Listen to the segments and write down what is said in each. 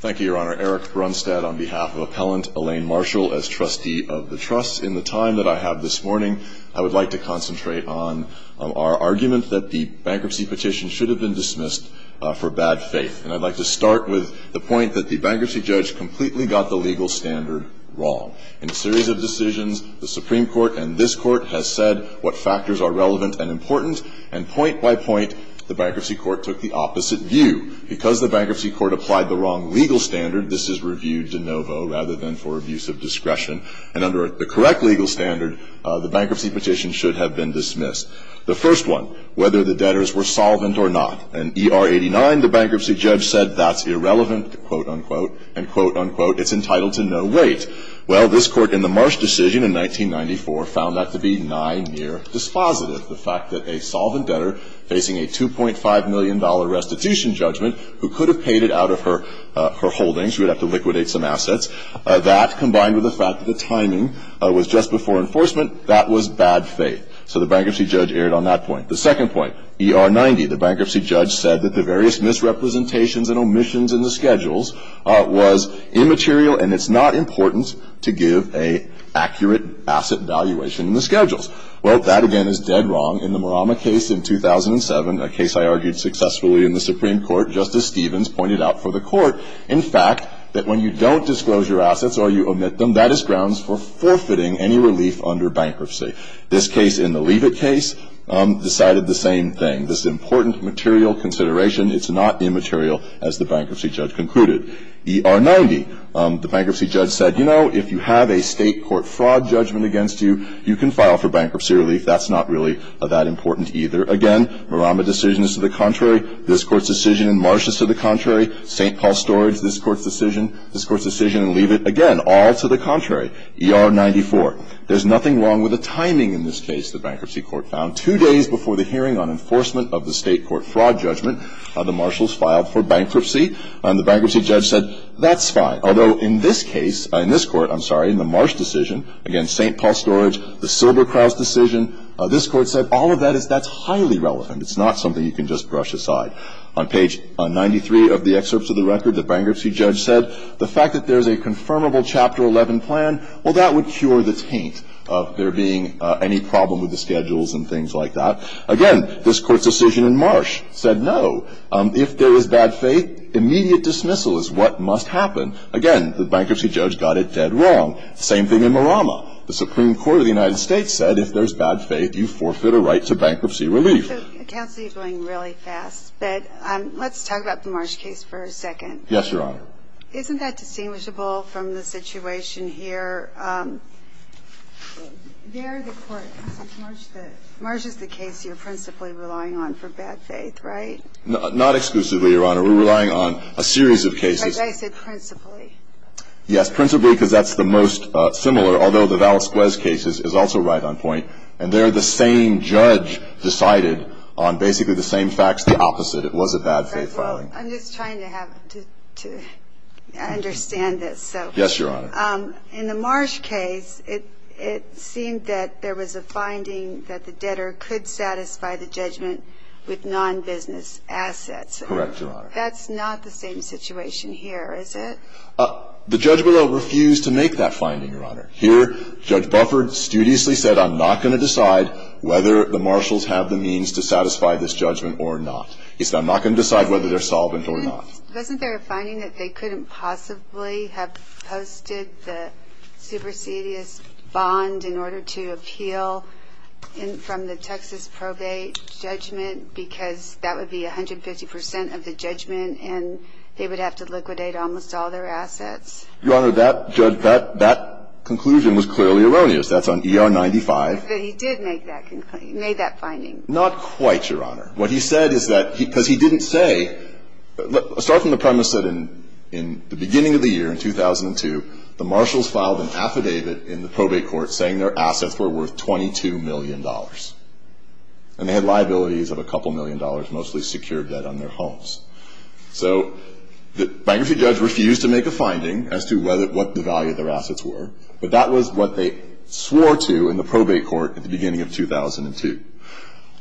Thank you, Your Honor. Eric Brunstad on behalf of Appellant Elaine Marshall as Trustee of the Trust. In the time that I have this morning, I would like to concentrate on our argument that the bankruptcy petition should have been dismissed for bad faith. And I'd like to start with the point that the bankruptcy judge completely got the legal standard wrong. In a series of decisions, the Supreme Court and this Court has said what factors are relevant and important, and point by point, the bankruptcy court took the opposite view. Because the bankruptcy court applied the wrong legal standard, this is reviewed de novo rather than for abuse of discretion. And under the correct legal standard, the bankruptcy petition should have been dismissed. The first one, whether the debtors were solvent or not. In ER 89, the bankruptcy judge said that's irrelevant, quote-unquote, and quote-unquote, it's entitled to no weight. Well, this Court in the Marsh decision in 1994 found that to be nigh near dispositive. The fact that a solvent debtor facing a $2.5 million restitution judgment who could have paid it out of her holdings, who would have to liquidate some assets, that combined with the fact that the timing was just before enforcement, that was bad faith. So the bankruptcy judge erred on that point. The second point, ER 90, the bankruptcy judge said that the various misrepresentations and omissions in the schedules was immaterial and it's not important to give an accurate asset valuation in the schedules. Well, that again is dead wrong. In the Marama case in 2007, a case I argued successfully in the Supreme Court, Justice Stevens pointed out for the Court, in fact, that when you don't disclose your assets or you omit them, that is grounds for forfeiting any relief under bankruptcy. This case in the Leavitt case decided the same thing. This important material consideration, it's not immaterial, as the bankruptcy judge concluded. ER 90, the bankruptcy judge said, you know, if you have a State court fraud judgment against you, you can file for bankruptcy relief. That's not really that important either. Again, Marama decision is to the contrary. This Court's decision in Marsh is to the contrary. St. Paul Storage, this Court's decision, this Court's decision in Leavitt, again, all to the contrary. ER 94, there's nothing wrong with the timing in this case, the bankruptcy court found. Two days before the hearing on enforcement of the State court fraud judgment, the marshals filed for bankruptcy. And the bankruptcy judge said, that's fine. Although in this case, in this Court, I'm sorry, in the Marsh decision against St. Paul Storage, the Silberkraut's decision, this Court said, all of that is, that's highly relevant. It's not something you can just brush aside. On page 93 of the excerpts of the record, the bankruptcy judge said, the fact that there's a confirmable Chapter 11 plan, well, that would cure the taint of there being any problem with the schedules and things like that. Again, this Court's decision in Marsh said no. If there is bad faith, immediate dismissal is what must happen. Again, the bankruptcy judge got it dead wrong. Same thing in Marama. The Supreme Court of the United States said, if there's bad faith, you forfeit a right to bankruptcy relief. So counsel, you're going really fast. But let's talk about the Marsh case for a second. Yes, Your Honor. Isn't that distinguishable from the situation here? There, the Court, Marsh is the case you're principally relying on for bad faith, right? Not exclusively, Your Honor. We're relying on a series of cases. I said principally. Yes, principally because that's the most similar, although the Valisquez case is also right on point. And they're the same judge decided on basically the same facts, the opposite. It was a bad faith filing. I'm just trying to have to understand this. Yes, Your Honor. In the Marsh case, it seemed that there was a finding that the debtor could satisfy the judgment with nonbusiness assets. Correct, Your Honor. That's not the same situation here, is it? The judge, below, refused to make that finding, Your Honor. Here, Judge Bufford studiously said, I'm not going to decide whether the marshals have the means to satisfy this judgment or not. He said, I'm not going to decide whether they're solvent or not. Wasn't there a finding that they couldn't possibly have posted the supersedious bond in order to appeal from the Texas probate judgment because that would be 150 percent of the judgment and they would have to liquidate almost all their assets? Your Honor, that conclusion was clearly erroneous. That's on ER 95. But he did make that finding. Not quite, Your Honor. What he said is that because he didn't say, start from the premise that in the beginning of the year, in 2002, the marshals filed an affidavit in the probate court saying their assets were worth $22 million. And they had liabilities of a couple million dollars, mostly secured debt on their homes. So the bankruptcy judge refused to make a finding as to what the value of their assets were. But that was what they swore to in the probate court at the beginning of 2002.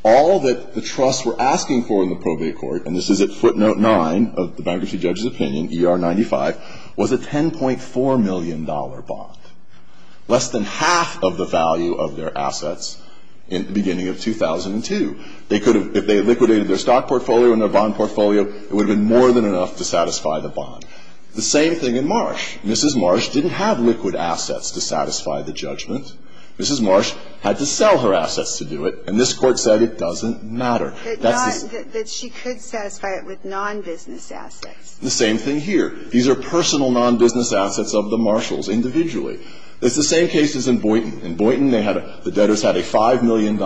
All that the trusts were asking for in the probate court, and this is at footnote 9 of the bankruptcy judge's opinion, ER 95, was a $10.4 million bond. Less than half of the value of their assets in the beginning of 2002. They could have, if they had liquidated their stock portfolio and their bond portfolio, it would have been more than enough to satisfy the bond. The same thing in Marsh. Mrs. Marsh didn't have liquid assets to satisfy the judgment. Mrs. Marsh had to sell her assets to do it. And this Court said it doesn't matter. That she could satisfy it with non-business assets. The same thing here. These are personal non-business assets of the Marshals, individually. It's the same case as in Boynton. In Boynton, they had a the debtors had a $5 million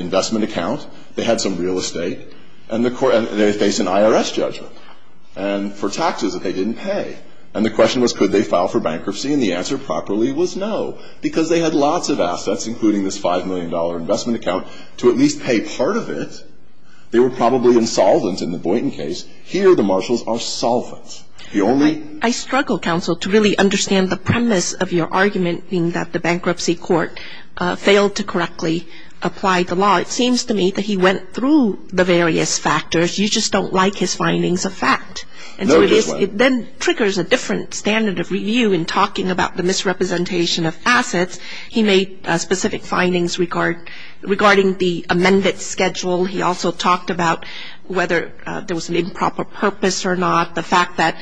investment account. They had some real estate. And they faced an IRS judgment for taxes that they didn't pay. And the question was, could they file for bankruptcy? And the answer properly was no. Because they had lots of assets, including this $5 million investment account, to at least pay part of it. They were probably insolvent in the Boynton case. Here, the Marshals are solvent. The only ---- I struggle, Counsel, to really understand the premise of your argument, being that the Bankruptcy Court failed to correctly apply the law. It seems to me that he went through the various factors. You just don't like his findings of fact. No, Justice Kagan. And so it then triggers a different standard of review in talking about the misrepresentation of assets. He made specific findings regarding the amended schedule. He also talked about whether there was an improper purpose or not, the fact that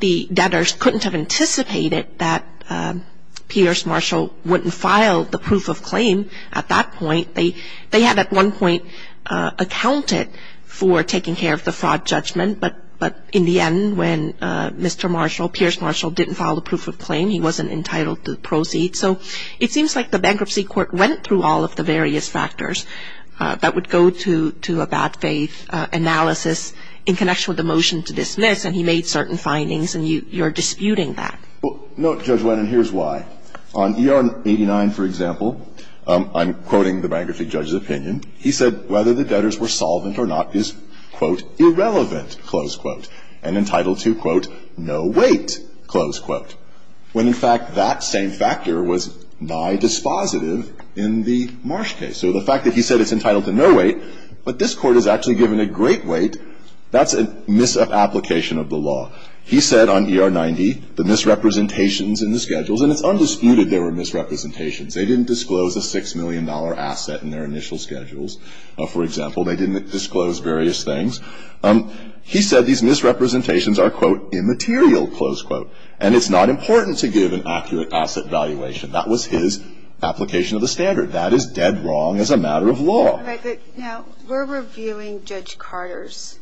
the debtors couldn't have anticipated that Pierce Marshall wouldn't file the proof of claim at that point. They had at one point accounted for taking care of the fraud judgment. But in the end, when Mr. Marshall, Pierce Marshall, didn't file the proof of claim, he wasn't entitled to proceed. So it seems like the Bankruptcy Court went through all of the various factors that would go to a bad faith analysis in connection with the motion to dismiss, and he made certain findings, and you're disputing that. Well, no, Judge Wenin, here's why. On ER 89, for example, I'm quoting the Bankruptcy Judge's opinion. He said whether the debtors were solvent or not is, quote, irrelevant, close quote, and entitled to, quote, no weight, close quote. When, in fact, that same factor was by dispositive in the Marsh case. So the fact that he said it's entitled to no weight, but this Court has actually given it great weight, that's a misapplication of the law. He said on ER 90, the misrepresentations in the schedules, and it's undisputed there were misrepresentations. They didn't disclose a $6 million asset in their initial schedules, for example. They didn't disclose various things. He said these misrepresentations are, quote, immaterial, close quote. And it's not important to give an accurate asset valuation. That was his application of the standard. That is dead wrong as a matter of law. Now, we're reviewing Judge Carter's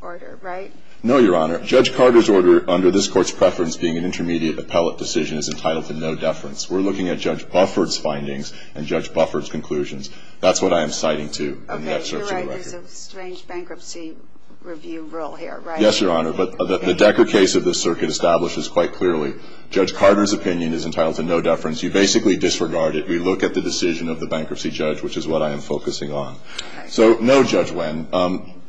order, right? No, Your Honor. Judge Carter's order, under this Court's preference being an intermediate appellate decision, is entitled to no deference. We're looking at Judge Buffert's findings and Judge Buffert's conclusions. That's what I am citing to in the excerpts of the record. Okay. You're right. There's a strange bankruptcy review rule here, right? Yes, Your Honor. But the Decker case of this circuit establishes quite clearly Judge Carter's opinion is entitled to no deference. You basically disregard it. You look at the decision of the bankruptcy judge, which is what I am focusing on. So no judgment.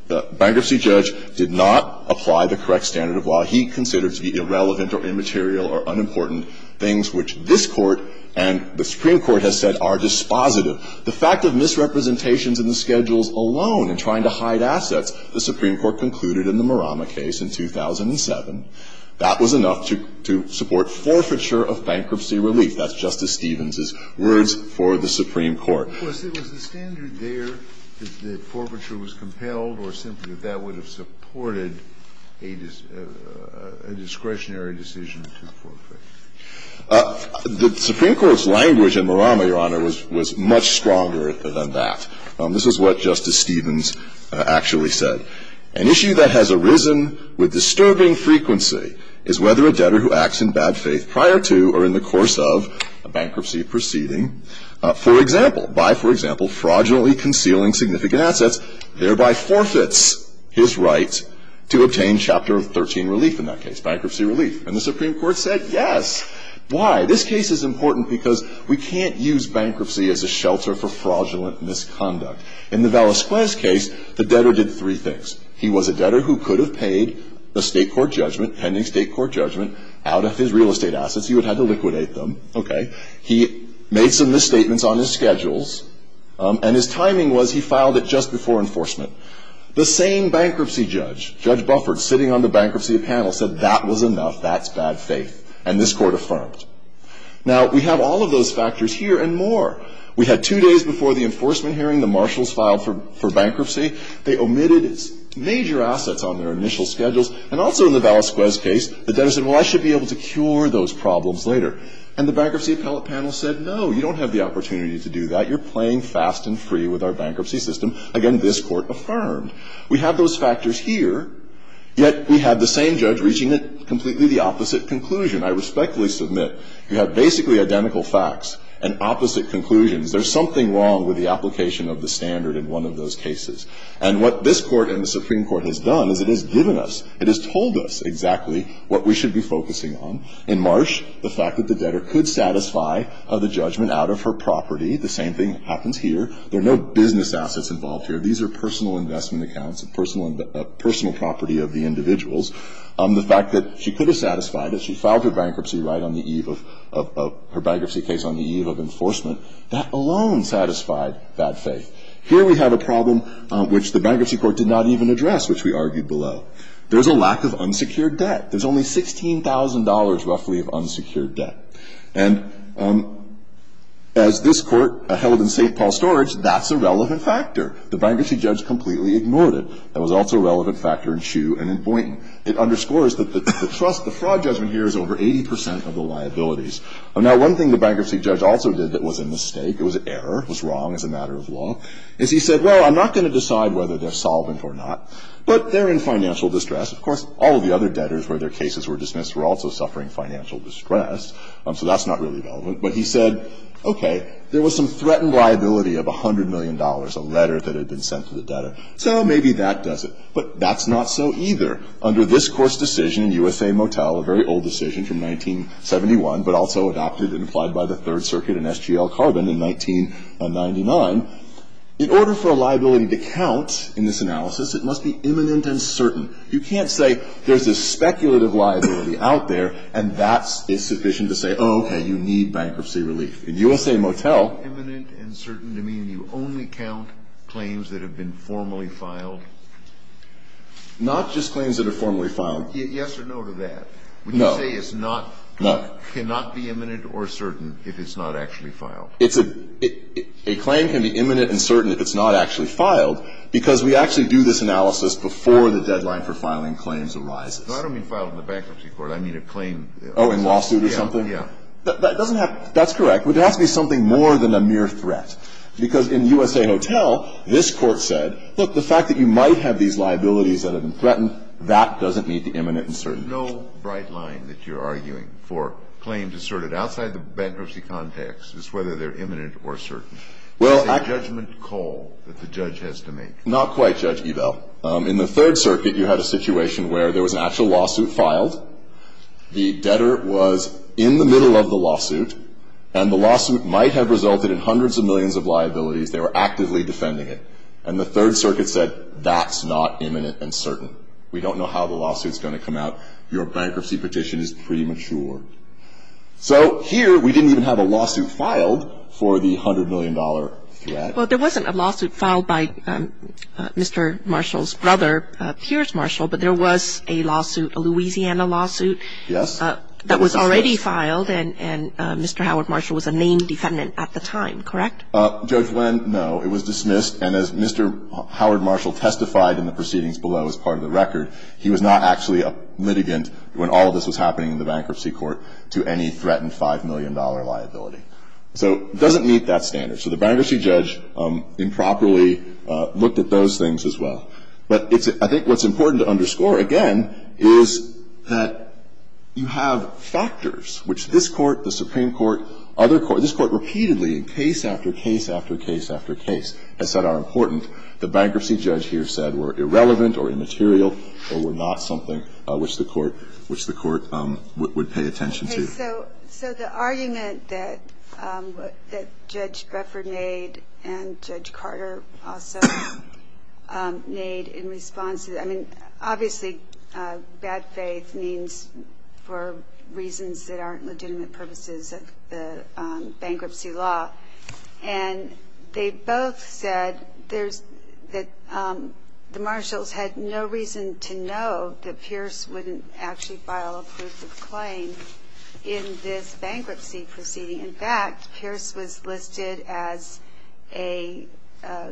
The bankruptcy judge did not apply the correct standard of law. He considered to be irrelevant or immaterial or unimportant things which this Court and the Supreme Court has said are dispositive. The fact of misrepresentations in the schedules alone in trying to hide assets, the Supreme Court concluded in the Murama case in 2007, that was enough to support forfeiture of bankruptcy relief. That's Justice Stevens's words for the Supreme Court. Of course, was the standard there that forfeiture was compelled or simply that that would have supported a discretionary decision to forfeit? The Supreme Court's language in Murama, Your Honor, was much stronger than that. This is what Justice Stevens actually said. An issue that has arisen with disturbing frequency is whether a debtor who acts in bad faith prior to or in the course of a bankruptcy proceeding, for example, by, for example, fraudulently concealing significant assets, thereby forfeits his right to obtain Chapter 13 relief in that case, bankruptcy relief. And the Supreme Court said yes. Why? This case is important because we can't use bankruptcy as a shelter for fraudulent misconduct. In the Velasquez case, the debtor did three things. He was a debtor who could have paid the State court judgment, pending State court judgment, out of his real estate assets. He would have had to liquidate them. Okay? He made some misstatements on his schedules, and his timing was he filed it just before enforcement. The same bankruptcy judge, Judge Bufford, sitting on the bankruptcy panel, said that was enough. That's bad faith. And this Court affirmed. Now, we have all of those factors here and more. We had two days before the enforcement hearing, the marshals filed for bankruptcy. They omitted major assets on their initial schedules. And also in the Velasquez case, the debtor said, well, I should be able to cure those problems later. And the bankruptcy appellate panel said, no, you don't have the opportunity to do that. You're playing fast and free with our bankruptcy system. Again, this Court affirmed. We have those factors here. Yet we have the same judge reaching completely the opposite conclusion. I respectfully submit, you have basically identical facts and opposite conclusions. There's something wrong with the application of the standard in one of those cases. And what this Court and the Supreme Court has done is it has given us, it has told us exactly what we should be focusing on. In Marsh, the fact that the debtor could satisfy the judgment out of her property, the same thing happens here. There are no business assets involved here. These are personal investment accounts, a personal property of the individuals. The fact that she could have satisfied it, she filed her bankruptcy right on the eve of her bankruptcy case on the eve of enforcement, that alone satisfied that faith. Here we have a problem which the Bankruptcy Court did not even address, which we argued below. There's a lack of unsecured debt. There's only $16,000 roughly of unsecured debt. And as this Court held in St. Paul's Storage, that's a relevant factor. The bankruptcy judge completely ignored it. That was also a relevant factor in Shue and in Boynton. It underscores that the trust, the fraud judgment here is over 80 percent of the liabilities. Now, one thing the bankruptcy judge also did that was a mistake, it was an error, was wrong as a matter of law, is he said, well, I'm not going to decide whether they're solvent or not, but they're in financial distress. Of course, all of the other debtors where their cases were dismissed were also suffering financial distress, so that's not really relevant. But he said, okay, there was some threatened liability of $100 million, a letter that had been sent to the debtor. So maybe that does it. But that's not so either. Under this Court's decision in U.S.A. Motel, a very old decision from 1971, but also adopted and applied by the Third Circuit in SGL Carbon in 1999, in order for a liability to count in this analysis, it must be imminent and certain. You can't say there's a speculative liability out there, and that is sufficient to say, okay, you need bankruptcy relief. In U.S.A. Motel. Imminent and certain to mean you only count claims that have been formally filed? Not just claims that are formally filed. Yes or no to that? No. Would you say it's not, cannot be imminent or certain if it's not actually filed? It's a, a claim can be imminent and certain if it's not actually filed, because we actually do this analysis before the deadline for filing claims arises. No, I don't mean filed in the Bankruptcy Court. I mean a claim. Oh, in lawsuit or something? Yeah, yeah. That doesn't have, that's correct. But it has to be something more than a mere threat. Because in U.S.A. Motel, this Court said, look, the fact that you might have these liabilities that have been threatened, that doesn't mean it's imminent and certain. There's no bright line that you're arguing for claims asserted outside the bankruptcy context as whether they're imminent or certain. Well, actually. It's a judgment call that the judge has to make. Not quite, Judge Ebel. In the Third Circuit, you had a situation where there was an actual lawsuit filed. The debtor was in the middle of the lawsuit. And the lawsuit might have resulted in hundreds of millions of liabilities. They were actively defending it. And the Third Circuit said, that's not imminent and certain. We don't know how the lawsuit's going to come out. Your bankruptcy petition is premature. So here, we didn't even have a lawsuit filed for the $100 million threat. Well, there wasn't a lawsuit filed by Mr. Marshall's brother, Pierce Marshall. But there was a lawsuit, a Louisiana lawsuit. Yes. That was already filed. And Mr. Howard Marshall was a named defendant at the time. Correct? Judge Wendt, no. It was dismissed. And as Mr. Howard Marshall testified in the proceedings below as part of the record, he was not actually a litigant when all of this was happening in the bankruptcy court to any threatened $5 million liability. So it doesn't meet that standard. So the bankruptcy judge improperly looked at those things as well. But I think what's important to underscore, again, is that you have factors which this Court, the Supreme Court, other courts, this Court repeatedly, case after case after case after case, has said are important. The bankruptcy judge here said were irrelevant or immaterial or were not something which the Court would pay attention to. So the argument that Judge Buffer made and Judge Carter also made in response to that, I mean, obviously bad faith means for reasons that aren't legitimate purposes of the bankruptcy law. And they both said that the Marshalls had no reason to know that Pierce wouldn't actually file a proof of claim in this bankruptcy proceeding. In fact, Pierce was listed as a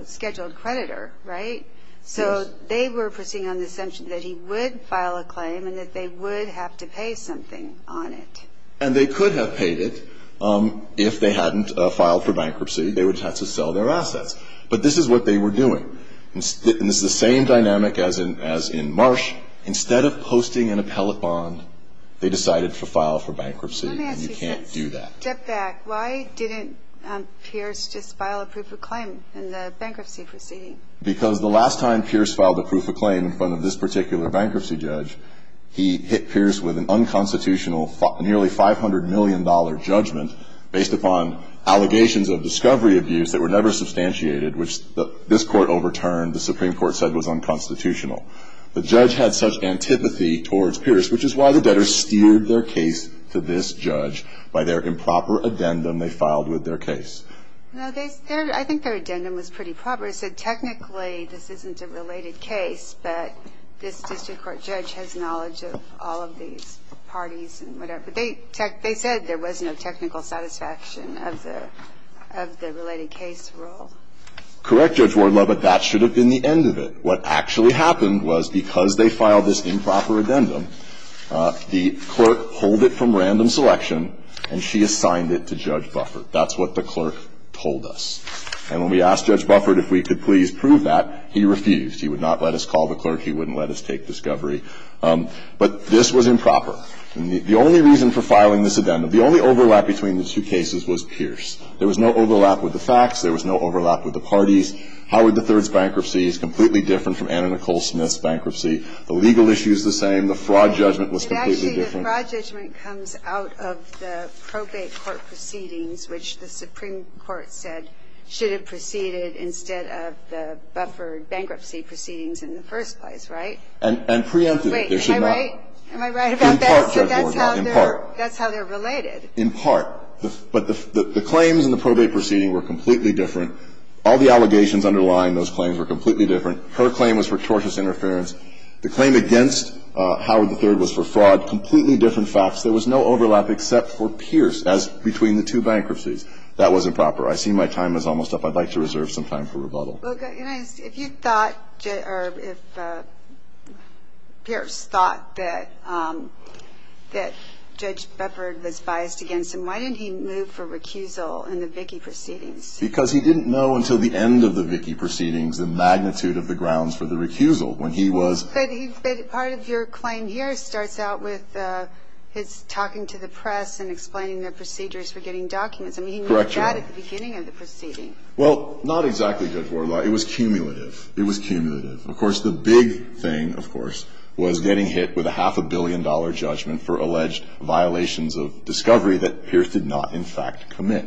scheduled creditor, right? So they were proceeding on the assumption that he would file a claim and that they would have to pay something on it. And they could have paid it if they hadn't filed for bankruptcy. They would have had to sell their assets. But this is what they were doing. And this is the same dynamic as in Marsh. Instead of posting an appellate bond, they decided to file for bankruptcy. And you can't do that. Let me ask you this. Step back. Why didn't Pierce just file a proof of claim in the bankruptcy proceeding? Because the last time Pierce filed a proof of claim in front of this particular bankruptcy judge, he hit Pierce with an unconstitutional nearly $500 million judgment based upon allegations of discovery abuse that were never substantiated, which this court overturned, the Supreme Court said was unconstitutional. The judge had such antipathy towards Pierce, which is why the debtors steered their case to this judge by their improper addendum they filed with their case. No, I think their addendum was pretty proper. It said technically this isn't a related case, but this district court judge has knowledge of all of these parties and whatever. They said there was no technical satisfaction of the related case rule. Correct Judge Wardlaw, but that should have been the end of it. What actually happened was because they filed this improper addendum, the clerk pulled it from random selection and she assigned it to Judge Buffert. That's what the clerk told us. And when we asked Judge Buffert if we could please prove that, he refused. He would not let us call the clerk. He wouldn't let us take discovery. But this was improper. And the only reason for filing this addendum, the only overlap between the two cases was Pierce. There was no overlap with the facts. There was no overlap with the parties. Howard III's bankruptcy is completely different from Anna Nicole Smith's bankruptcy. The legal issue is the same. The fraud judgment was completely different. Actually, the fraud judgment comes out of the probate court proceedings, which the Supreme Court said should have proceeded instead of the Buffert bankruptcy proceedings in the first place, right? And preempted. Wait. Am I right? Am I right about this? In part, Judge Wardlaw, in part. That's how they're related. In part. But the claims in the probate proceeding were completely different. All the allegations underlying those claims were completely different. Her claim was for tortious interference. The claim against Howard III was for fraud. Completely different facts. There was no overlap except for Pierce as between the two bankruptcies. That was improper. I see my time is almost up. I'd like to reserve some time for rebuttal. If you thought, or if Pierce thought that Judge Buffert was biased against him, why didn't he move for recusal in the Vickie proceedings? Because he didn't know until the end of the Vickie proceedings the magnitude of the grounds for the recusal when he was. But part of your claim here starts out with his talking to the press and explaining the procedures for getting documents. I mean, he moved that at the beginning of the proceeding. Well, not exactly good for a lot. It was cumulative. It was cumulative. Of course, the big thing, of course, was getting hit with a half a billion dollar judgment for alleged violations of discovery that Pierce did not in fact commit.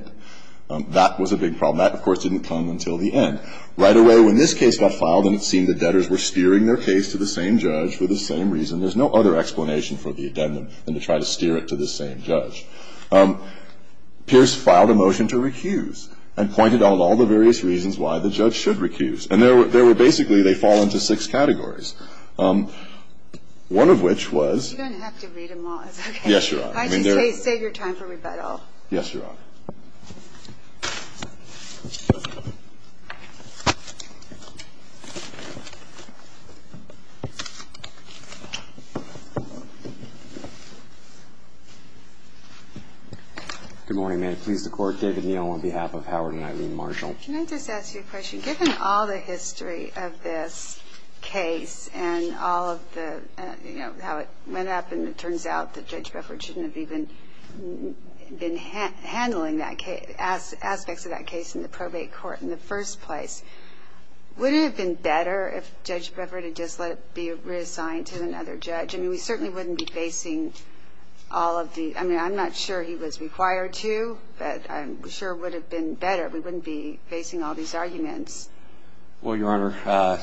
That was a big problem. That, of course, didn't come until the end. Right away when this case got filed and it seemed the debtors were steering their case to the same judge for the same reason, there's no other explanation for the addendum than to try to steer it to the same judge. Pierce filed a motion to recuse and pointed out all the various reasons why the judge should recuse. And there were basically, they fall into six categories, one of which was. You don't have to read them all. It's okay. Yes, Your Honor. I just say save your time for rebuttal. Yes, Your Honor. Good morning. May it please the Court. David Neal on behalf of Howard and Eileen Marshall. Can I just ask you a question? Given all the history of this case and all of the, you know, how it went up and it turns out that Judge Beffert shouldn't have even been handling this case, how do you feel about the fact that Judge Beffert should have been handling aspects of that case in the probate court in the first place? Wouldn't it have been better if Judge Beffert had just let it be reassigned to another judge? I mean, we certainly wouldn't be facing all of the, I mean, I'm not sure he was required to, but I'm sure it would have been better. We wouldn't be facing all these arguments. Well, Your Honor,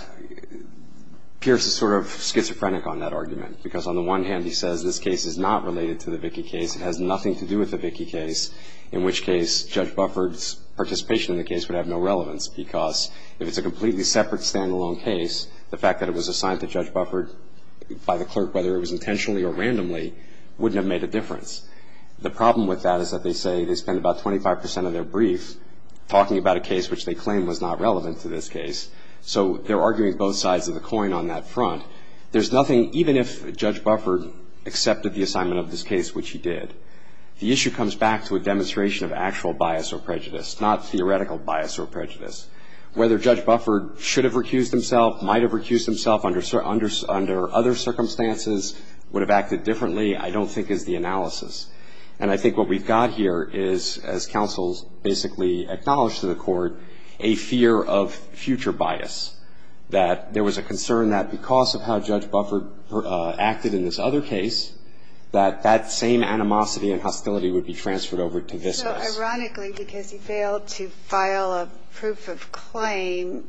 Pierce is sort of schizophrenic on that argument, because on the one hand he says this case is not related to the Vickie case. It has nothing to do with the Vickie case, in which case Judge Beffert's participation in the case would have no relevance, because if it's a completely separate stand-alone case, the fact that it was assigned to Judge Beffert by the clerk, whether it was intentionally or randomly, wouldn't have made a difference. The problem with that is that they say they spent about 25 percent of their brief talking about a case which they claim was not relevant to this case. So they're arguing both sides of the coin on that front. There's nothing, even if Judge Beffert accepted the assignment of this case, which he did, the issue comes back to a demonstration of actual bias or prejudice, not theoretical bias or prejudice. Whether Judge Beffert should have recused himself, might have recused himself under other circumstances, would have acted differently, I don't think is the analysis. And I think what we've got here is, as counsels basically acknowledge to the Court, a fear of future bias, that there was a concern that because of how Judge Beffert acted in this other case, that that same animosity and hostility would be transferred over to this case. So ironically, because he failed to file a proof of claim,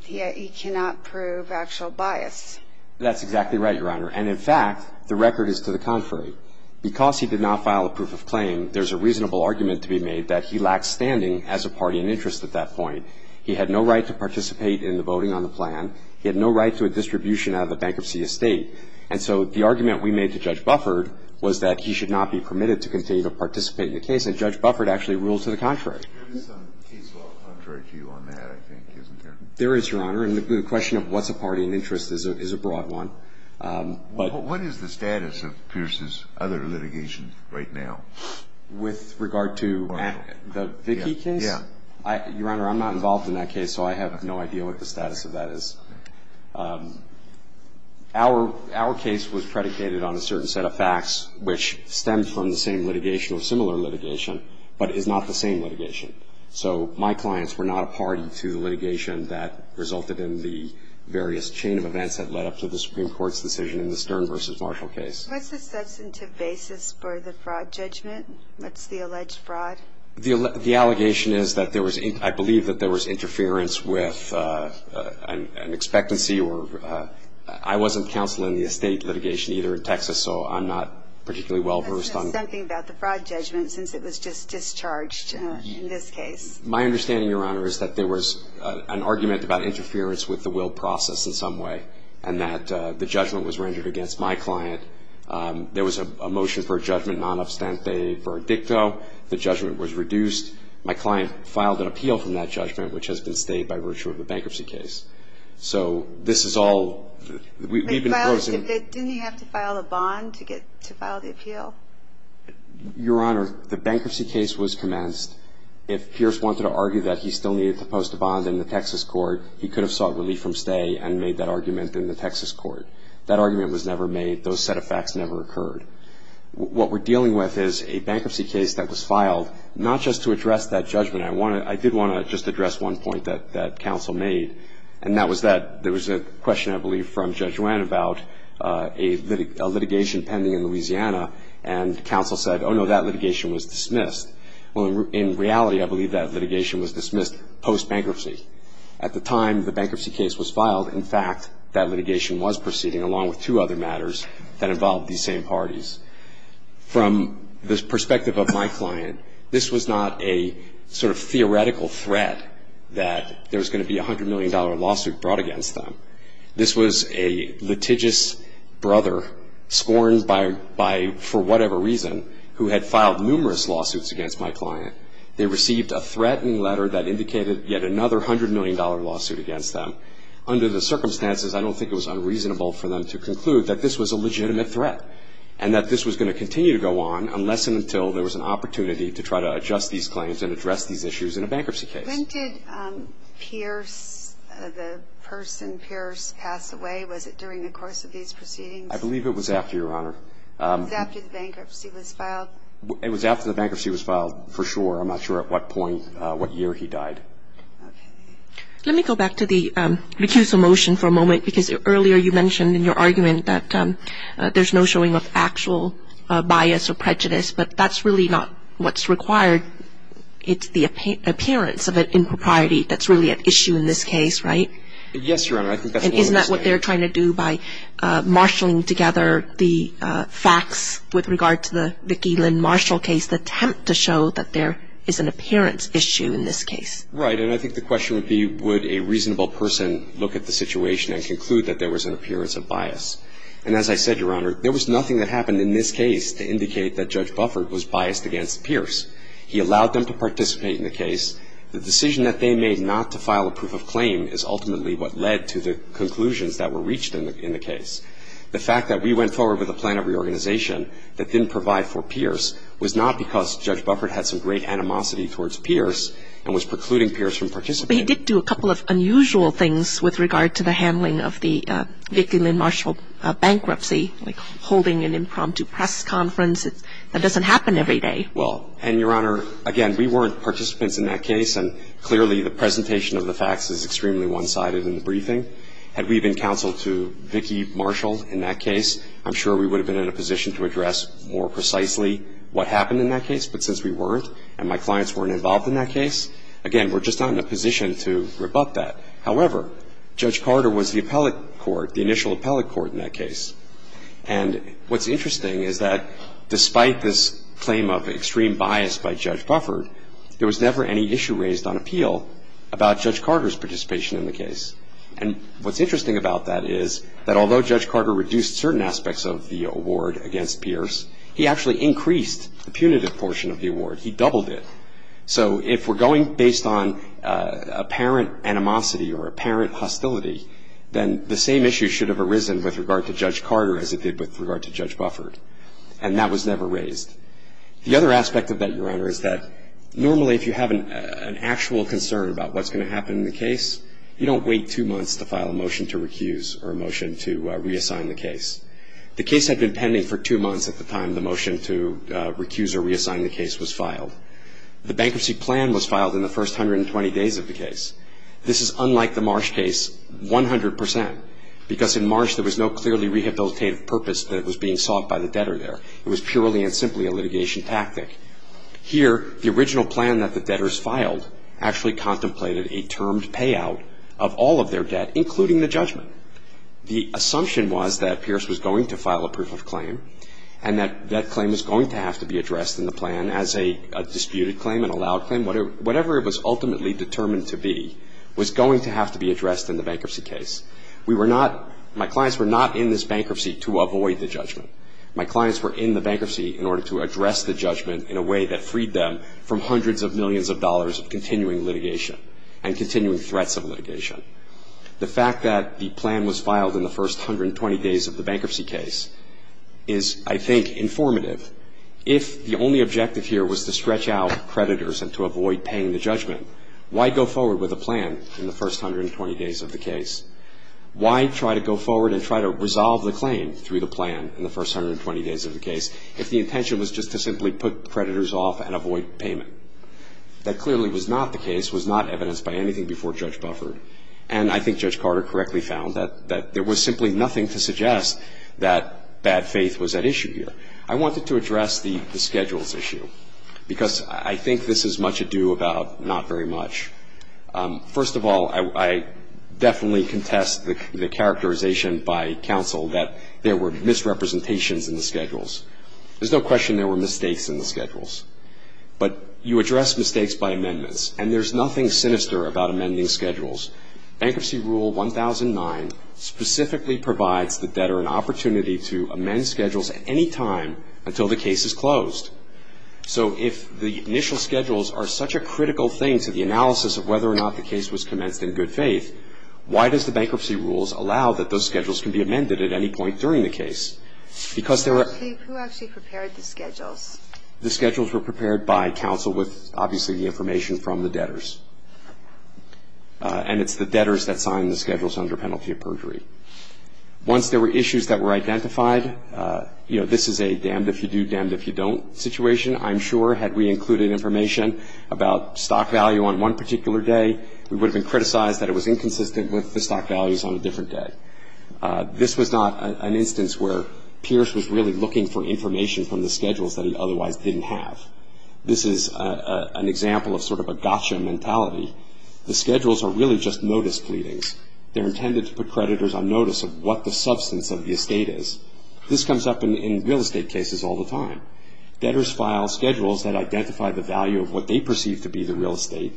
he cannot prove actual bias. That's exactly right, Your Honor. And in fact, the record is to the contrary. Because he did not file a proof of claim, there's a reasonable argument to be made that he lacked standing as a party in interest at that point. He had no right to participate in the voting on the plan. He had no right to a distribution out of the bankruptcy estate. And so the argument we made to Judge Beffert was that he should not be permitted to continue to participate in the case. And Judge Beffert actually ruled to the contrary. There is some case law contrary to you on that, I think, isn't there? There is, Your Honor. And the question of what's a party in interest is a broad one. What is the status of Pierce's other litigation right now? With regard to the Vickie case? Yeah. Your Honor, I'm not involved in that case, so I have no idea what the status of that is. Our case was predicated on a certain set of facts which stemmed from the same litigation or similar litigation, but is not the same litigation. So my clients were not a party to the litigation that resulted in the various chain of Supreme Court's decision in the Stern v. Marshall case. What's the substantive basis for the fraud judgment? What's the alleged fraud? The allegation is that there was – I believe that there was interference with an expectancy or – I wasn't counsel in the estate litigation either in Texas, so I'm not particularly well-versed on – But there's something about the fraud judgment since it was just discharged in this case. My understanding, Your Honor, is that there was an argument about interference with the will process in some way and that the judgment was rendered against my client. There was a motion for a judgment non-abstante for a dicto. The judgment was reduced. My client filed an appeal from that judgment, which has been stayed by virtue of a bankruptcy case. So this is all – we've been closing – Didn't he have to file a bond to file the appeal? Your Honor, the bankruptcy case was commenced. If Pierce wanted to argue that he still needed to post a bond in the Texas court, he could have sought relief from stay and made that argument in the Texas court. That argument was never made. Those set of facts never occurred. What we're dealing with is a bankruptcy case that was filed not just to address that judgment. I want to – I did want to just address one point that counsel made, and that was that there was a question, I believe, from Judge Wann about a litigation pending in Louisiana, and counsel said, oh, no, that litigation was dismissed. Well, in reality, I believe that litigation was dismissed post-bankruptcy. At the time the bankruptcy case was filed, in fact, that litigation was proceeding, along with two other matters that involved these same parties. From the perspective of my client, this was not a sort of theoretical threat that there was going to be a $100 million lawsuit brought against them. This was a litigious brother, scorned by – for whatever reason, who had filed numerous lawsuits against my client. They received a threatening letter that indicated yet another $100 million lawsuit against them. Under the circumstances, I don't think it was unreasonable for them to conclude that this was a legitimate threat, and that this was going to continue to go on unless and until there was an opportunity to try to adjust these claims and address these issues in a bankruptcy case. When did Pierce, the person Pierce, pass away? Was it during the course of these proceedings? I believe it was after, Your Honor. It was after the bankruptcy was filed? It was after the bankruptcy was filed, for sure. I'm not sure at what point, what year he died. Let me go back to the recusal motion for a moment, because earlier you mentioned in your argument that there's no showing of actual bias or prejudice, but that's really not what's required. It's the appearance of an impropriety that's really at issue in this case, right? Yes, Your Honor. I think that's the only mistake. I think that's what they're trying to do by marshalling together the facts with regard to the Vicki Lynn Marshall case, the attempt to show that there is an appearance issue in this case. Right, and I think the question would be, would a reasonable person look at the situation and conclude that there was an appearance of bias? And as I said, Your Honor, there was nothing that happened in this case to indicate that Judge Buffert was biased against Pierce. He allowed them to participate in the case. The decision that they made not to file a proof of claim is ultimately what led to conclusions that were reached in the case. The fact that we went forward with a plan of reorganization that didn't provide for Pierce was not because Judge Buffert had some great animosity towards Pierce and was precluding Pierce from participating. But he did do a couple of unusual things with regard to the handling of the Vicki Lynn Marshall bankruptcy, like holding an impromptu press conference. That doesn't happen every day. Well, and, Your Honor, again, we weren't participants in that case, and clearly the presentation of the facts is extremely one-sided in the briefing. Had we been counseled to Vicki Marshall in that case, I'm sure we would have been in a position to address more precisely what happened in that case. But since we weren't, and my clients weren't involved in that case, again, we're just not in a position to rebut that. However, Judge Carter was the appellate court, the initial appellate court in that case. And what's interesting is that despite this claim of extreme bias by Judge Buffert, there was never any issue raised on appeal about Judge Carter's participation in the case. And what's interesting about that is that although Judge Carter reduced certain aspects of the award against Pierce, he actually increased the punitive portion of the award. He doubled it. So if we're going based on apparent animosity or apparent hostility, then the same issue should have arisen with regard to Judge Carter as it did with regard to Judge Buffert. And that was never raised. The other aspect of that, Your Honor, is that normally if you have an actual concern about what's going to happen in the case, you don't wait two months to file a motion to recuse or a motion to reassign the case. The case had been pending for two months at the time the motion to recuse or reassign the case was filed. The bankruptcy plan was filed in the first 120 days of the case. This is unlike the Marsh case 100 percent, because in Marsh there was no clearly rehabilitative purpose that was being sought by the debtor there. It was purely and simply a litigation tactic. Here, the original plan that the debtors filed actually contemplated a termed payout of all of their debt, including the judgment. The assumption was that Pierce was going to file a proof of claim and that that claim was going to have to be addressed in the plan as a disputed claim, an allowed claim, whatever it was ultimately determined to be, was going to have to be addressed in the bankruptcy case. We were not, my clients were not in this bankruptcy to avoid the judgment. My clients were in the bankruptcy in order to address the judgment in a way that freed them from hundreds of millions of dollars of continuing litigation and continuing threats of litigation. The fact that the plan was filed in the first 120 days of the bankruptcy case is, I think, informative. If the only objective here was to stretch out creditors and to avoid paying the judgment, why go forward with a plan in the first 120 days of the case? Why try to go forward and try to resolve the claim through the plan in the first 120 days of the case if the intention was just to simply put creditors off and avoid payment? That clearly was not the case, was not evidenced by anything before Judge Bufford. And I think Judge Carter correctly found that there was simply nothing to suggest that bad faith was at issue here. I wanted to address the schedules issue because I think this is much adieu about not very much. First of all, I definitely contest the characterization by counsel that there were misrepresentations in the schedules. There's no question there were mistakes in the schedules. But you address mistakes by amendments. And there's nothing sinister about amending schedules. Bankruptcy Rule 1009 specifically provides the debtor an opportunity to amend schedules at any time until the case is closed. So if the initial schedules are such a critical thing to the analysis of whether or not the case was commenced in good faith, why does the bankruptcy rules allow that those schedules can be amended at any point during the case? Who actually prepared the schedules? The schedules were prepared by counsel with obviously the information from the debtors. And it's the debtors that sign the schedules under penalty of perjury. Once there were issues that were identified, this is a damned if you do, situation. I'm sure had we included information about stock value on one particular day, we would have been criticized that it was inconsistent with the stock values on a different day. This was not an instance where Pierce was really looking for information from the schedules that he otherwise didn't have. This is an example of sort of a gotcha mentality. The schedules are really just notice pleadings. They're intended to put creditors on notice of what the substance of the estate is. This comes up in real estate cases all the time. Debtors file schedules that identify the value of what they perceive to be the real estate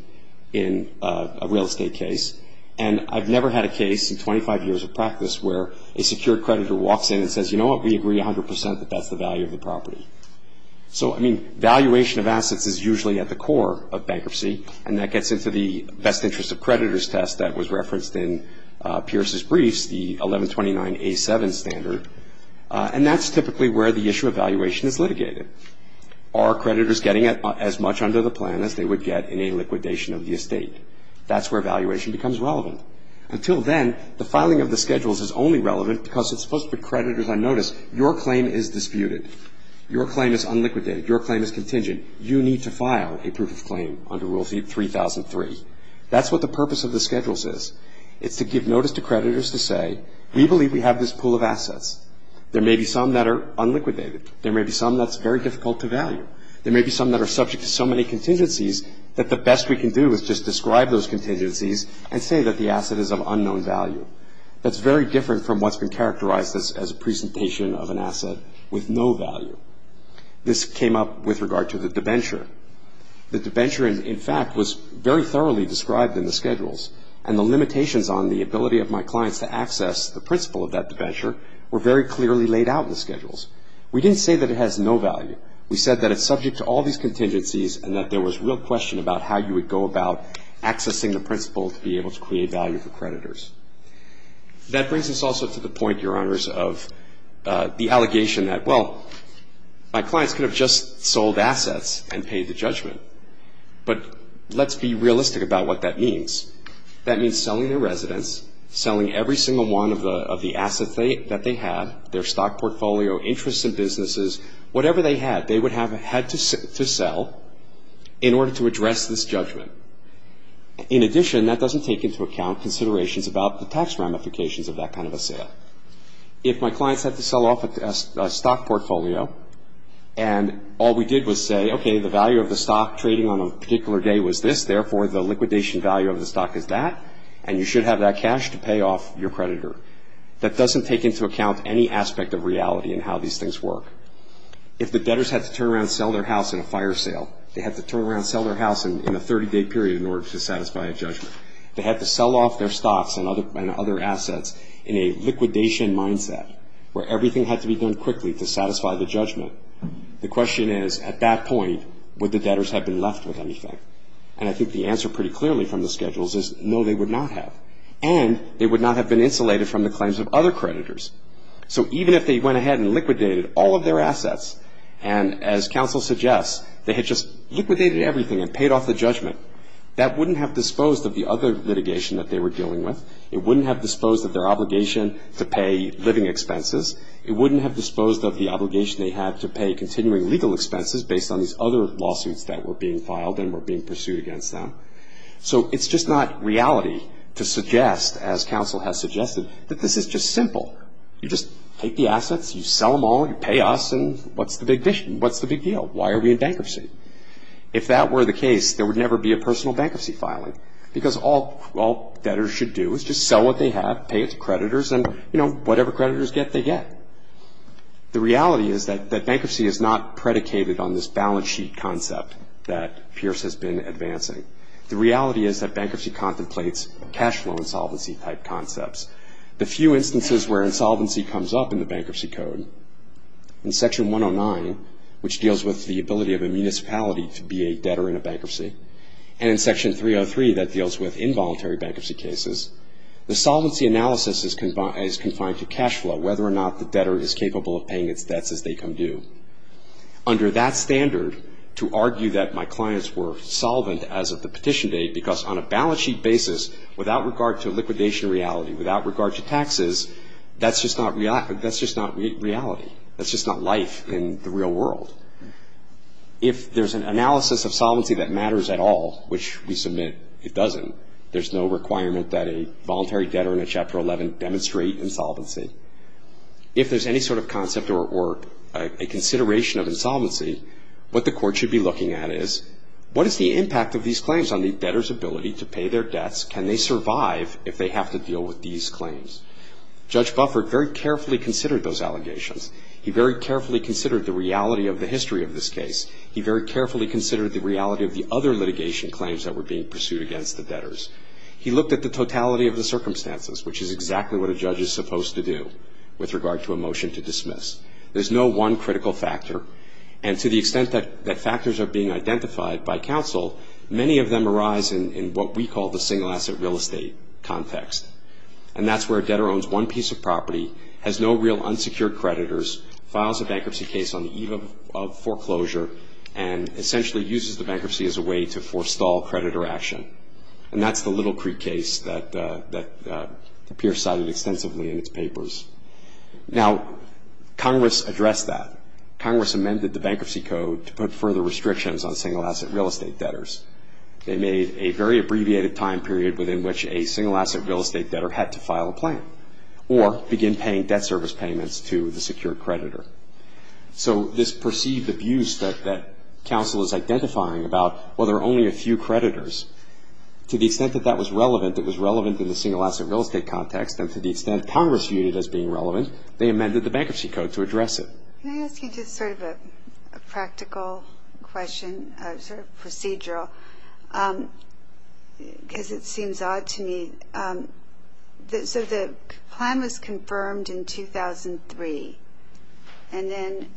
in a real estate case. And I've never had a case in 25 years of practice where a secured creditor walks in and says, you know what, we agree 100% that that's the value of the property. So, I mean, valuation of assets is usually at the core of bankruptcy. And that gets into the best interest of creditors test that was referenced in standard. And that's typically where the issue of valuation is litigated. Are creditors getting as much under the plan as they would get in a liquidation of the estate? That's where valuation becomes relevant. Until then, the filing of the schedules is only relevant because it's supposed to put creditors on notice. Your claim is disputed. Your claim is unliquidated. Your claim is contingent. You need to file a proof of claim under Rule 3003. That's what the purpose of the schedules is. It's to give notice to creditors to say, we believe we have this pool of assets. There may be some that are unliquidated. There may be some that's very difficult to value. There may be some that are subject to so many contingencies that the best we can do is just describe those contingencies and say that the asset is of unknown value. That's very different from what's been characterized as a presentation of an asset with no value. This came up with regard to the debenture. The debenture, in fact, was very thoroughly described in the schedules. And the limitations on the ability of my clients to access the principle of that debenture were very clearly laid out in the schedules. We didn't say that it has no value. We said that it's subject to all these contingencies and that there was real question about how you would go about accessing the principle to be able to create value for creditors. That brings us also to the point, Your Honors, of the allegation that, well, my clients could have just sold assets and paid the judgment. But let's be realistic about what that means. That means selling their residence, selling every single one of the assets that they had, their stock portfolio, interests in businesses, whatever they had, they would have had to sell in order to address this judgment. In addition, that doesn't take into account considerations about the tax ramifications of that kind of a sale. If my clients had to sell off a stock portfolio and all we did was say, okay, the value of the stock trading on a particular day was this, therefore, the liquidation value of the stock is that, and you should have that cash to pay off your creditor. That doesn't take into account any aspect of reality in how these things work. If the debtors had to turn around and sell their house in a fire sale, they had to turn around and sell their house in a 30-day period in order to satisfy a judgment. They had to sell off their stocks and other assets in a liquidation mindset where everything had to be done quickly to satisfy the judgment. The question is, at that point, would the debtors have been left with anything? And I think the answer pretty clearly from the schedules is no, they would not have. And they would not have been insulated from the claims of other creditors. So even if they went ahead and liquidated all of their assets, and as counsel suggests, they had just liquidated everything and paid off the judgment, that wouldn't have disposed of the other litigation that they were dealing with. It wouldn't have disposed of their obligation to pay living expenses. It wouldn't have disposed of the obligation they had to pay continuing legal expenses based on these other lawsuits that were being filed and were being pursued against them. So it's just not reality to suggest, as counsel has suggested, that this is just simple. You just take the assets, you sell them all, you pay us, and what's the big deal? Why are we in bankruptcy? If that were the case, there would never be a personal bankruptcy filing because all debtors should do is just sell what they have, pay its creditors, and, you know, whatever creditors get, they get. The reality is that bankruptcy is not predicated on this balance sheet concept that Pierce has been advancing. The reality is that bankruptcy contemplates cash flow insolvency-type concepts. The few instances where insolvency comes up in the Bankruptcy Code, in Section 109, which deals with the ability of a municipality to be a debtor in a bankruptcy, and in Section 303 that deals with involuntary bankruptcy cases, the solvency analysis is confined to cash flow, whether or not the debtor is capable of paying its debts as they come due. Under that standard, to argue that my clients were solvent as of the petition date because on a balance sheet basis, without regard to liquidation reality, without regard to taxes, that's just not reality. That's just not life in the real world. If there's an analysis of solvency that matters at all, which we submit it doesn't, there's no requirement that a voluntary debtor in a Chapter 11 demonstrate insolvency. If there's any sort of concept or a consideration of insolvency, what the court should be looking at is, what is the impact of these claims on the debtor's ability to pay their debts? Can they survive if they have to deal with these claims? Judge Buffert very carefully considered those allegations. He very carefully considered the reality of the history of this case. He very carefully considered the reality of the other litigation claims that were being pursued against the debtors. He looked at the totality of the circumstances, which is exactly what a judge is supposed to do with regard to a motion to dismiss. There's no one critical factor, and to the extent that factors are being identified by counsel, many of them arise in what we call the single-asset real estate context, and that's where a debtor owns one piece of property, has no real unsecured creditors, files a bankruptcy case on the eve of foreclosure, and essentially uses the bankruptcy as a way to forestall creditor action, and that's the Little Creek case that the peers cited extensively in its papers. Now, Congress addressed that. Congress amended the bankruptcy code to put further restrictions on single-asset real estate debtors. They made a very abbreviated time period within which a single-asset real estate debtor had to file a plan or begin paying debt service payments to the secured creditor. So this perceived abuse that counsel is identifying about, well, there are only a few creditors, to the extent that that was relevant, it was relevant in the single-asset real estate context, and to the extent Congress viewed it as being relevant, they amended the bankruptcy code to address it. Can I ask you just sort of a practical question, sort of procedural, because it seems odd to me? So the plan was confirmed in 2003, and then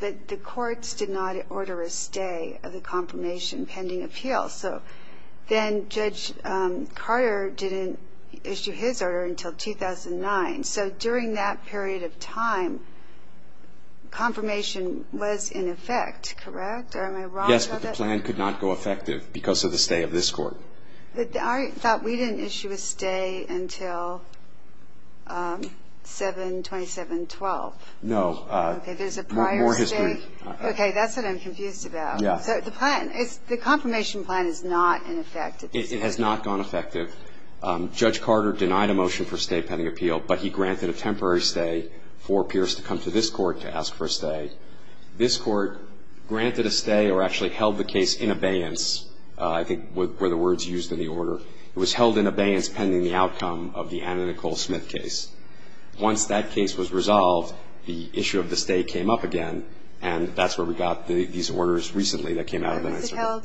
the courts did not order a stay of the confirmation pending appeal. So then Judge Carter didn't issue his order until 2009. So during that period of time, confirmation was in effect, correct? Yes, but the plan could not go effective because of the stay of this court. I thought we didn't issue a stay until 7-27-12. No. Okay, there's a prior stay. More history. Okay, that's what I'm confused about. Yeah. So the plan, the confirmation plan is not in effect. It has not gone effective. Judge Carter denied a motion for stay pending appeal, but he granted a temporary stay for peers to come to this court to ask for a stay. This court granted a stay or actually held the case in abeyance, I think were the words used in the order. It was held in abeyance pending the outcome of the Anna Nicole Smith case. Once that case was resolved, the issue of the stay came up again, and that's where we got these orders recently that came out of that. Was it held?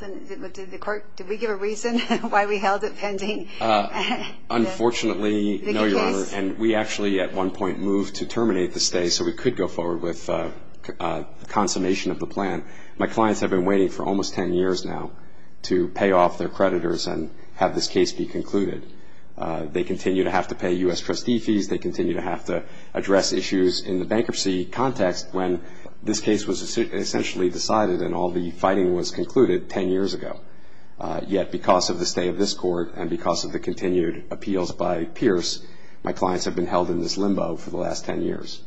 Did the court, did we give a reason why we held it pending? Unfortunately, no, Your Honor, and we actually at one point moved to terminate the stay so we could go forward with consummation of the plan. My clients have been waiting for almost ten years now to pay off their creditors and have this case be concluded. They continue to have to pay U.S. trustee fees. They continue to have to address issues in the bankruptcy context when this case was essentially decided and all the fighting was concluded ten years ago. Yet because of the stay of this court and because of the continued appeals by peers, my clients have been held in this limbo for the last ten years.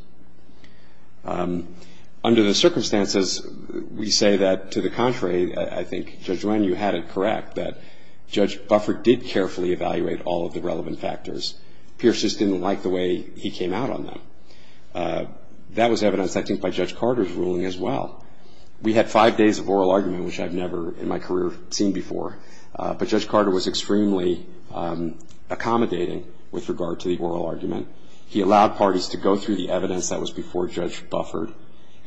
Under the circumstances, we say that, to the contrary, I think, Judge Wen, you had it correct, that Judge Buffert did carefully evaluate all of the relevant factors. Pierce just didn't like the way he came out on them. That was evidenced, I think, by Judge Carter's ruling as well. We had five days of oral argument, which I've never in my career seen before, but Judge Carter was extremely accommodating with regard to the oral argument. He allowed parties to go through the evidence that was before Judge Buffert.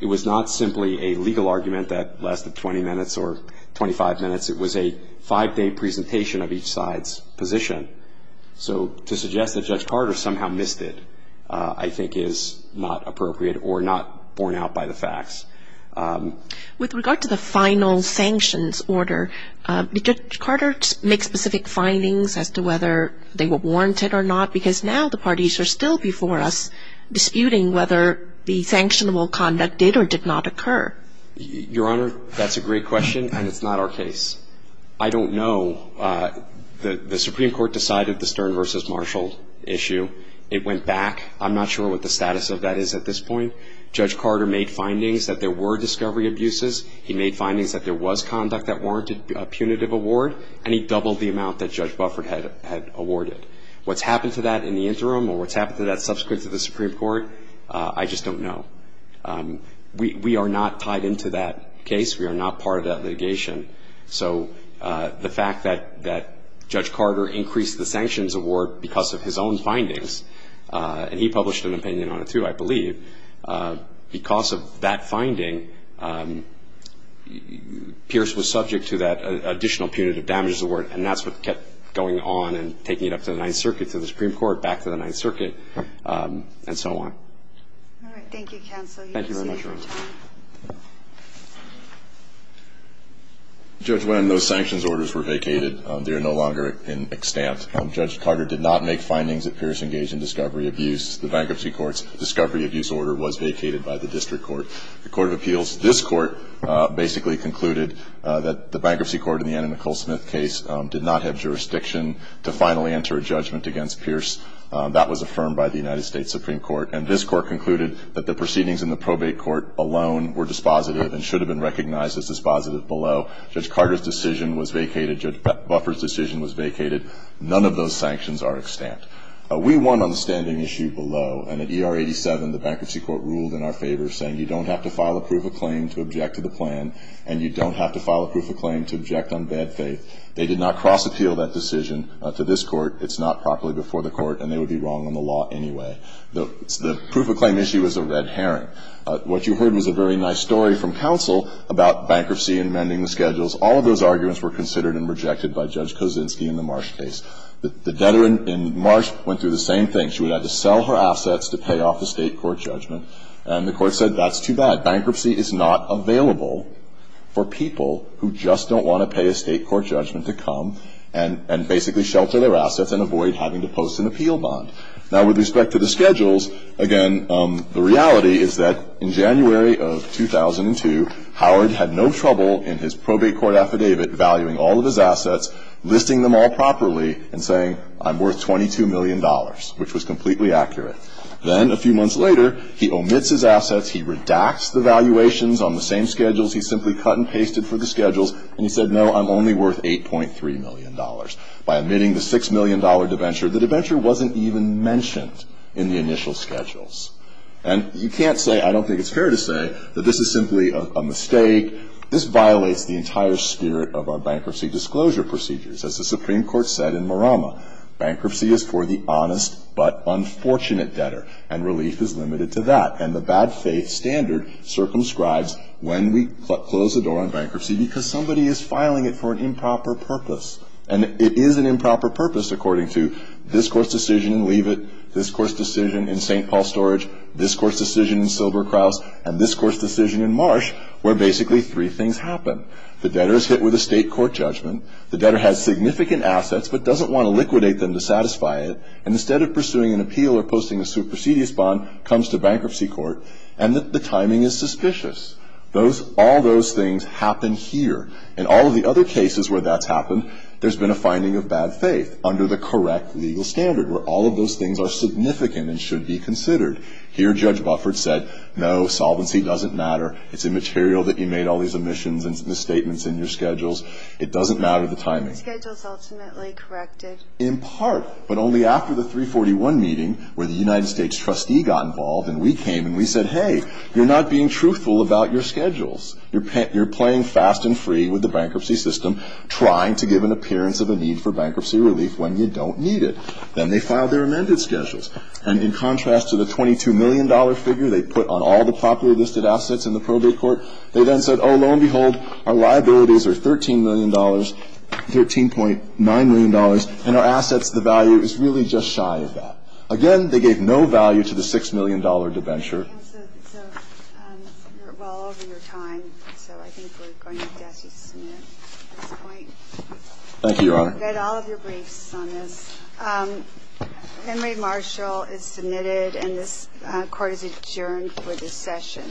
It was not simply a legal argument that lasted 20 minutes or 25 minutes. It was a five-day presentation of each side's position. So to suggest that Judge Carter somehow missed it, I think, is not appropriate or not borne out by the facts. With regard to the final sanctions order, did Judge Carter make specific findings as to whether they were warranted or not? Because now the parties are still before us disputing whether the sanctionable conduct did or did not occur. Your Honor, that's a great question, and it's not our case. I don't know. The Supreme Court decided the Stern v. Marshall issue. It went back. I'm not sure what the status of that is at this point. Judge Carter made findings that there were discovery abuses. He made findings that there was conduct that warranted a punitive award, and he doubled the amount that Judge Buffert had awarded. What's happened to that in the interim or what's happened to that subsequent to the Supreme Court, I just don't know. We are not tied into that case. We are not part of that litigation. So the fact that Judge Carter increased the sanctions award because of his own findings, and he published an opinion on it, too, I believe, because of that finding, Pierce was subject to that additional punitive damages award, and that's what kept going on and taking it up to the Ninth Circuit, to the Supreme Court, back to the Ninth Circuit, and so on. All right. Thank you, Counsel. Thank you very much, Your Honor. Judge, when those sanctions orders were vacated, they are no longer in extant. Judge Carter did not make findings that Pierce engaged in discovery abuse. The bankruptcy court's discovery abuse order was vacated by the district court, the court of appeals. This court basically concluded that the bankruptcy court in the Anna Nicole Smith case did not have jurisdiction to finally enter a judgment against Pierce. That was affirmed by the United States Supreme Court, and this court concluded that the proceedings in the probate court alone were dispositive and should have been recognized as dispositive below. Judge Carter's decision was vacated. Judge Buffert's decision was vacated. None of those sanctions are extant. We won on the standing issue below, and at ER 87, the bankruptcy court ruled in our favor, saying you don't have to file a proof of claim to object to the plan, and you don't have to file a proof of claim to object on bad faith. They did not cross-appeal that decision to this court. It's not properly before the court, and they would be wrong on the law anyway. The proof of claim issue is a red herring. What you heard was a very nice story from counsel about bankruptcy and mending the schedules. All of those arguments were considered and rejected by Judge Kosinski in the Marsh case. The debtor in Marsh went through the same thing. She would have to sell her assets to pay off the State court judgment, and the court said that's too bad. Bankruptcy is not available for people who just don't want to pay a State court judgment to come and basically shelter their assets and avoid having to post an appeal bond. Now, with respect to the schedules, again, the reality is that in January of 2002, Howard had no trouble in his probate court affidavit valuing all of his assets, listing them all properly and saying, I'm worth $22 million, which was completely accurate. Then a few months later, he omits his assets. He redacts the valuations on the same schedules. He simply cut and pasted for the schedules, and he said, no, I'm only worth $8.3 million. By omitting the $6 million debenture, the debenture wasn't even mentioned in the initial schedules. And you can't say, I don't think it's fair to say, that this is simply a mistake. This violates the entire spirit of our bankruptcy disclosure procedures. As the Supreme Court said in Marama, bankruptcy is for the honest but unfortunate debtor, and relief is limited to that. And the bad faith standard circumscribes when we close the door on bankruptcy because somebody is filing it for an improper purpose. And it is an improper purpose, according to this Court's decision in Leavitt, this Court's decision in St. Paul Storage, this Court's decision in Silberkraus, and this Court's decision in Marsh, where basically three things happen. The debtor is hit with a state court judgment. The debtor has significant assets but doesn't want to liquidate them to satisfy it. And instead of pursuing an appeal or posting a supersedious bond, comes to bankruptcy court. And the timing is suspicious. All those things happen here. In all of the other cases where that's happened, there's been a finding of bad faith under the correct legal standard, where all of those things are significant and should be considered. Here Judge Buffert said, no, solvency doesn't matter. It's immaterial that you made all these omissions and misstatements in your schedules. It doesn't matter the timing. The schedule is ultimately corrected. In part, but only after the 341 meeting where the United States trustee got involved and we came and we said, hey, you're not being truthful about your schedules. You're playing fast and free with the bankruptcy system, trying to give an appearance of a need for bankruptcy relief when you don't need it. Then they filed their amended schedules. And in contrast to the $22 million figure they put on all the popular listed assets in the probate court, they then said, oh, lo and behold, our liabilities are $13 million, $13.9 million, and our assets, the value is really just shy of that. Again, they gave no value to the $6 million debenture. So you're well over your time. So I think we're going to have to ask you to submit at this point. Thank you, Your Honor. You've got all of your briefs on this. Henry Marshall is submitted, and this Court is adjourned for this session.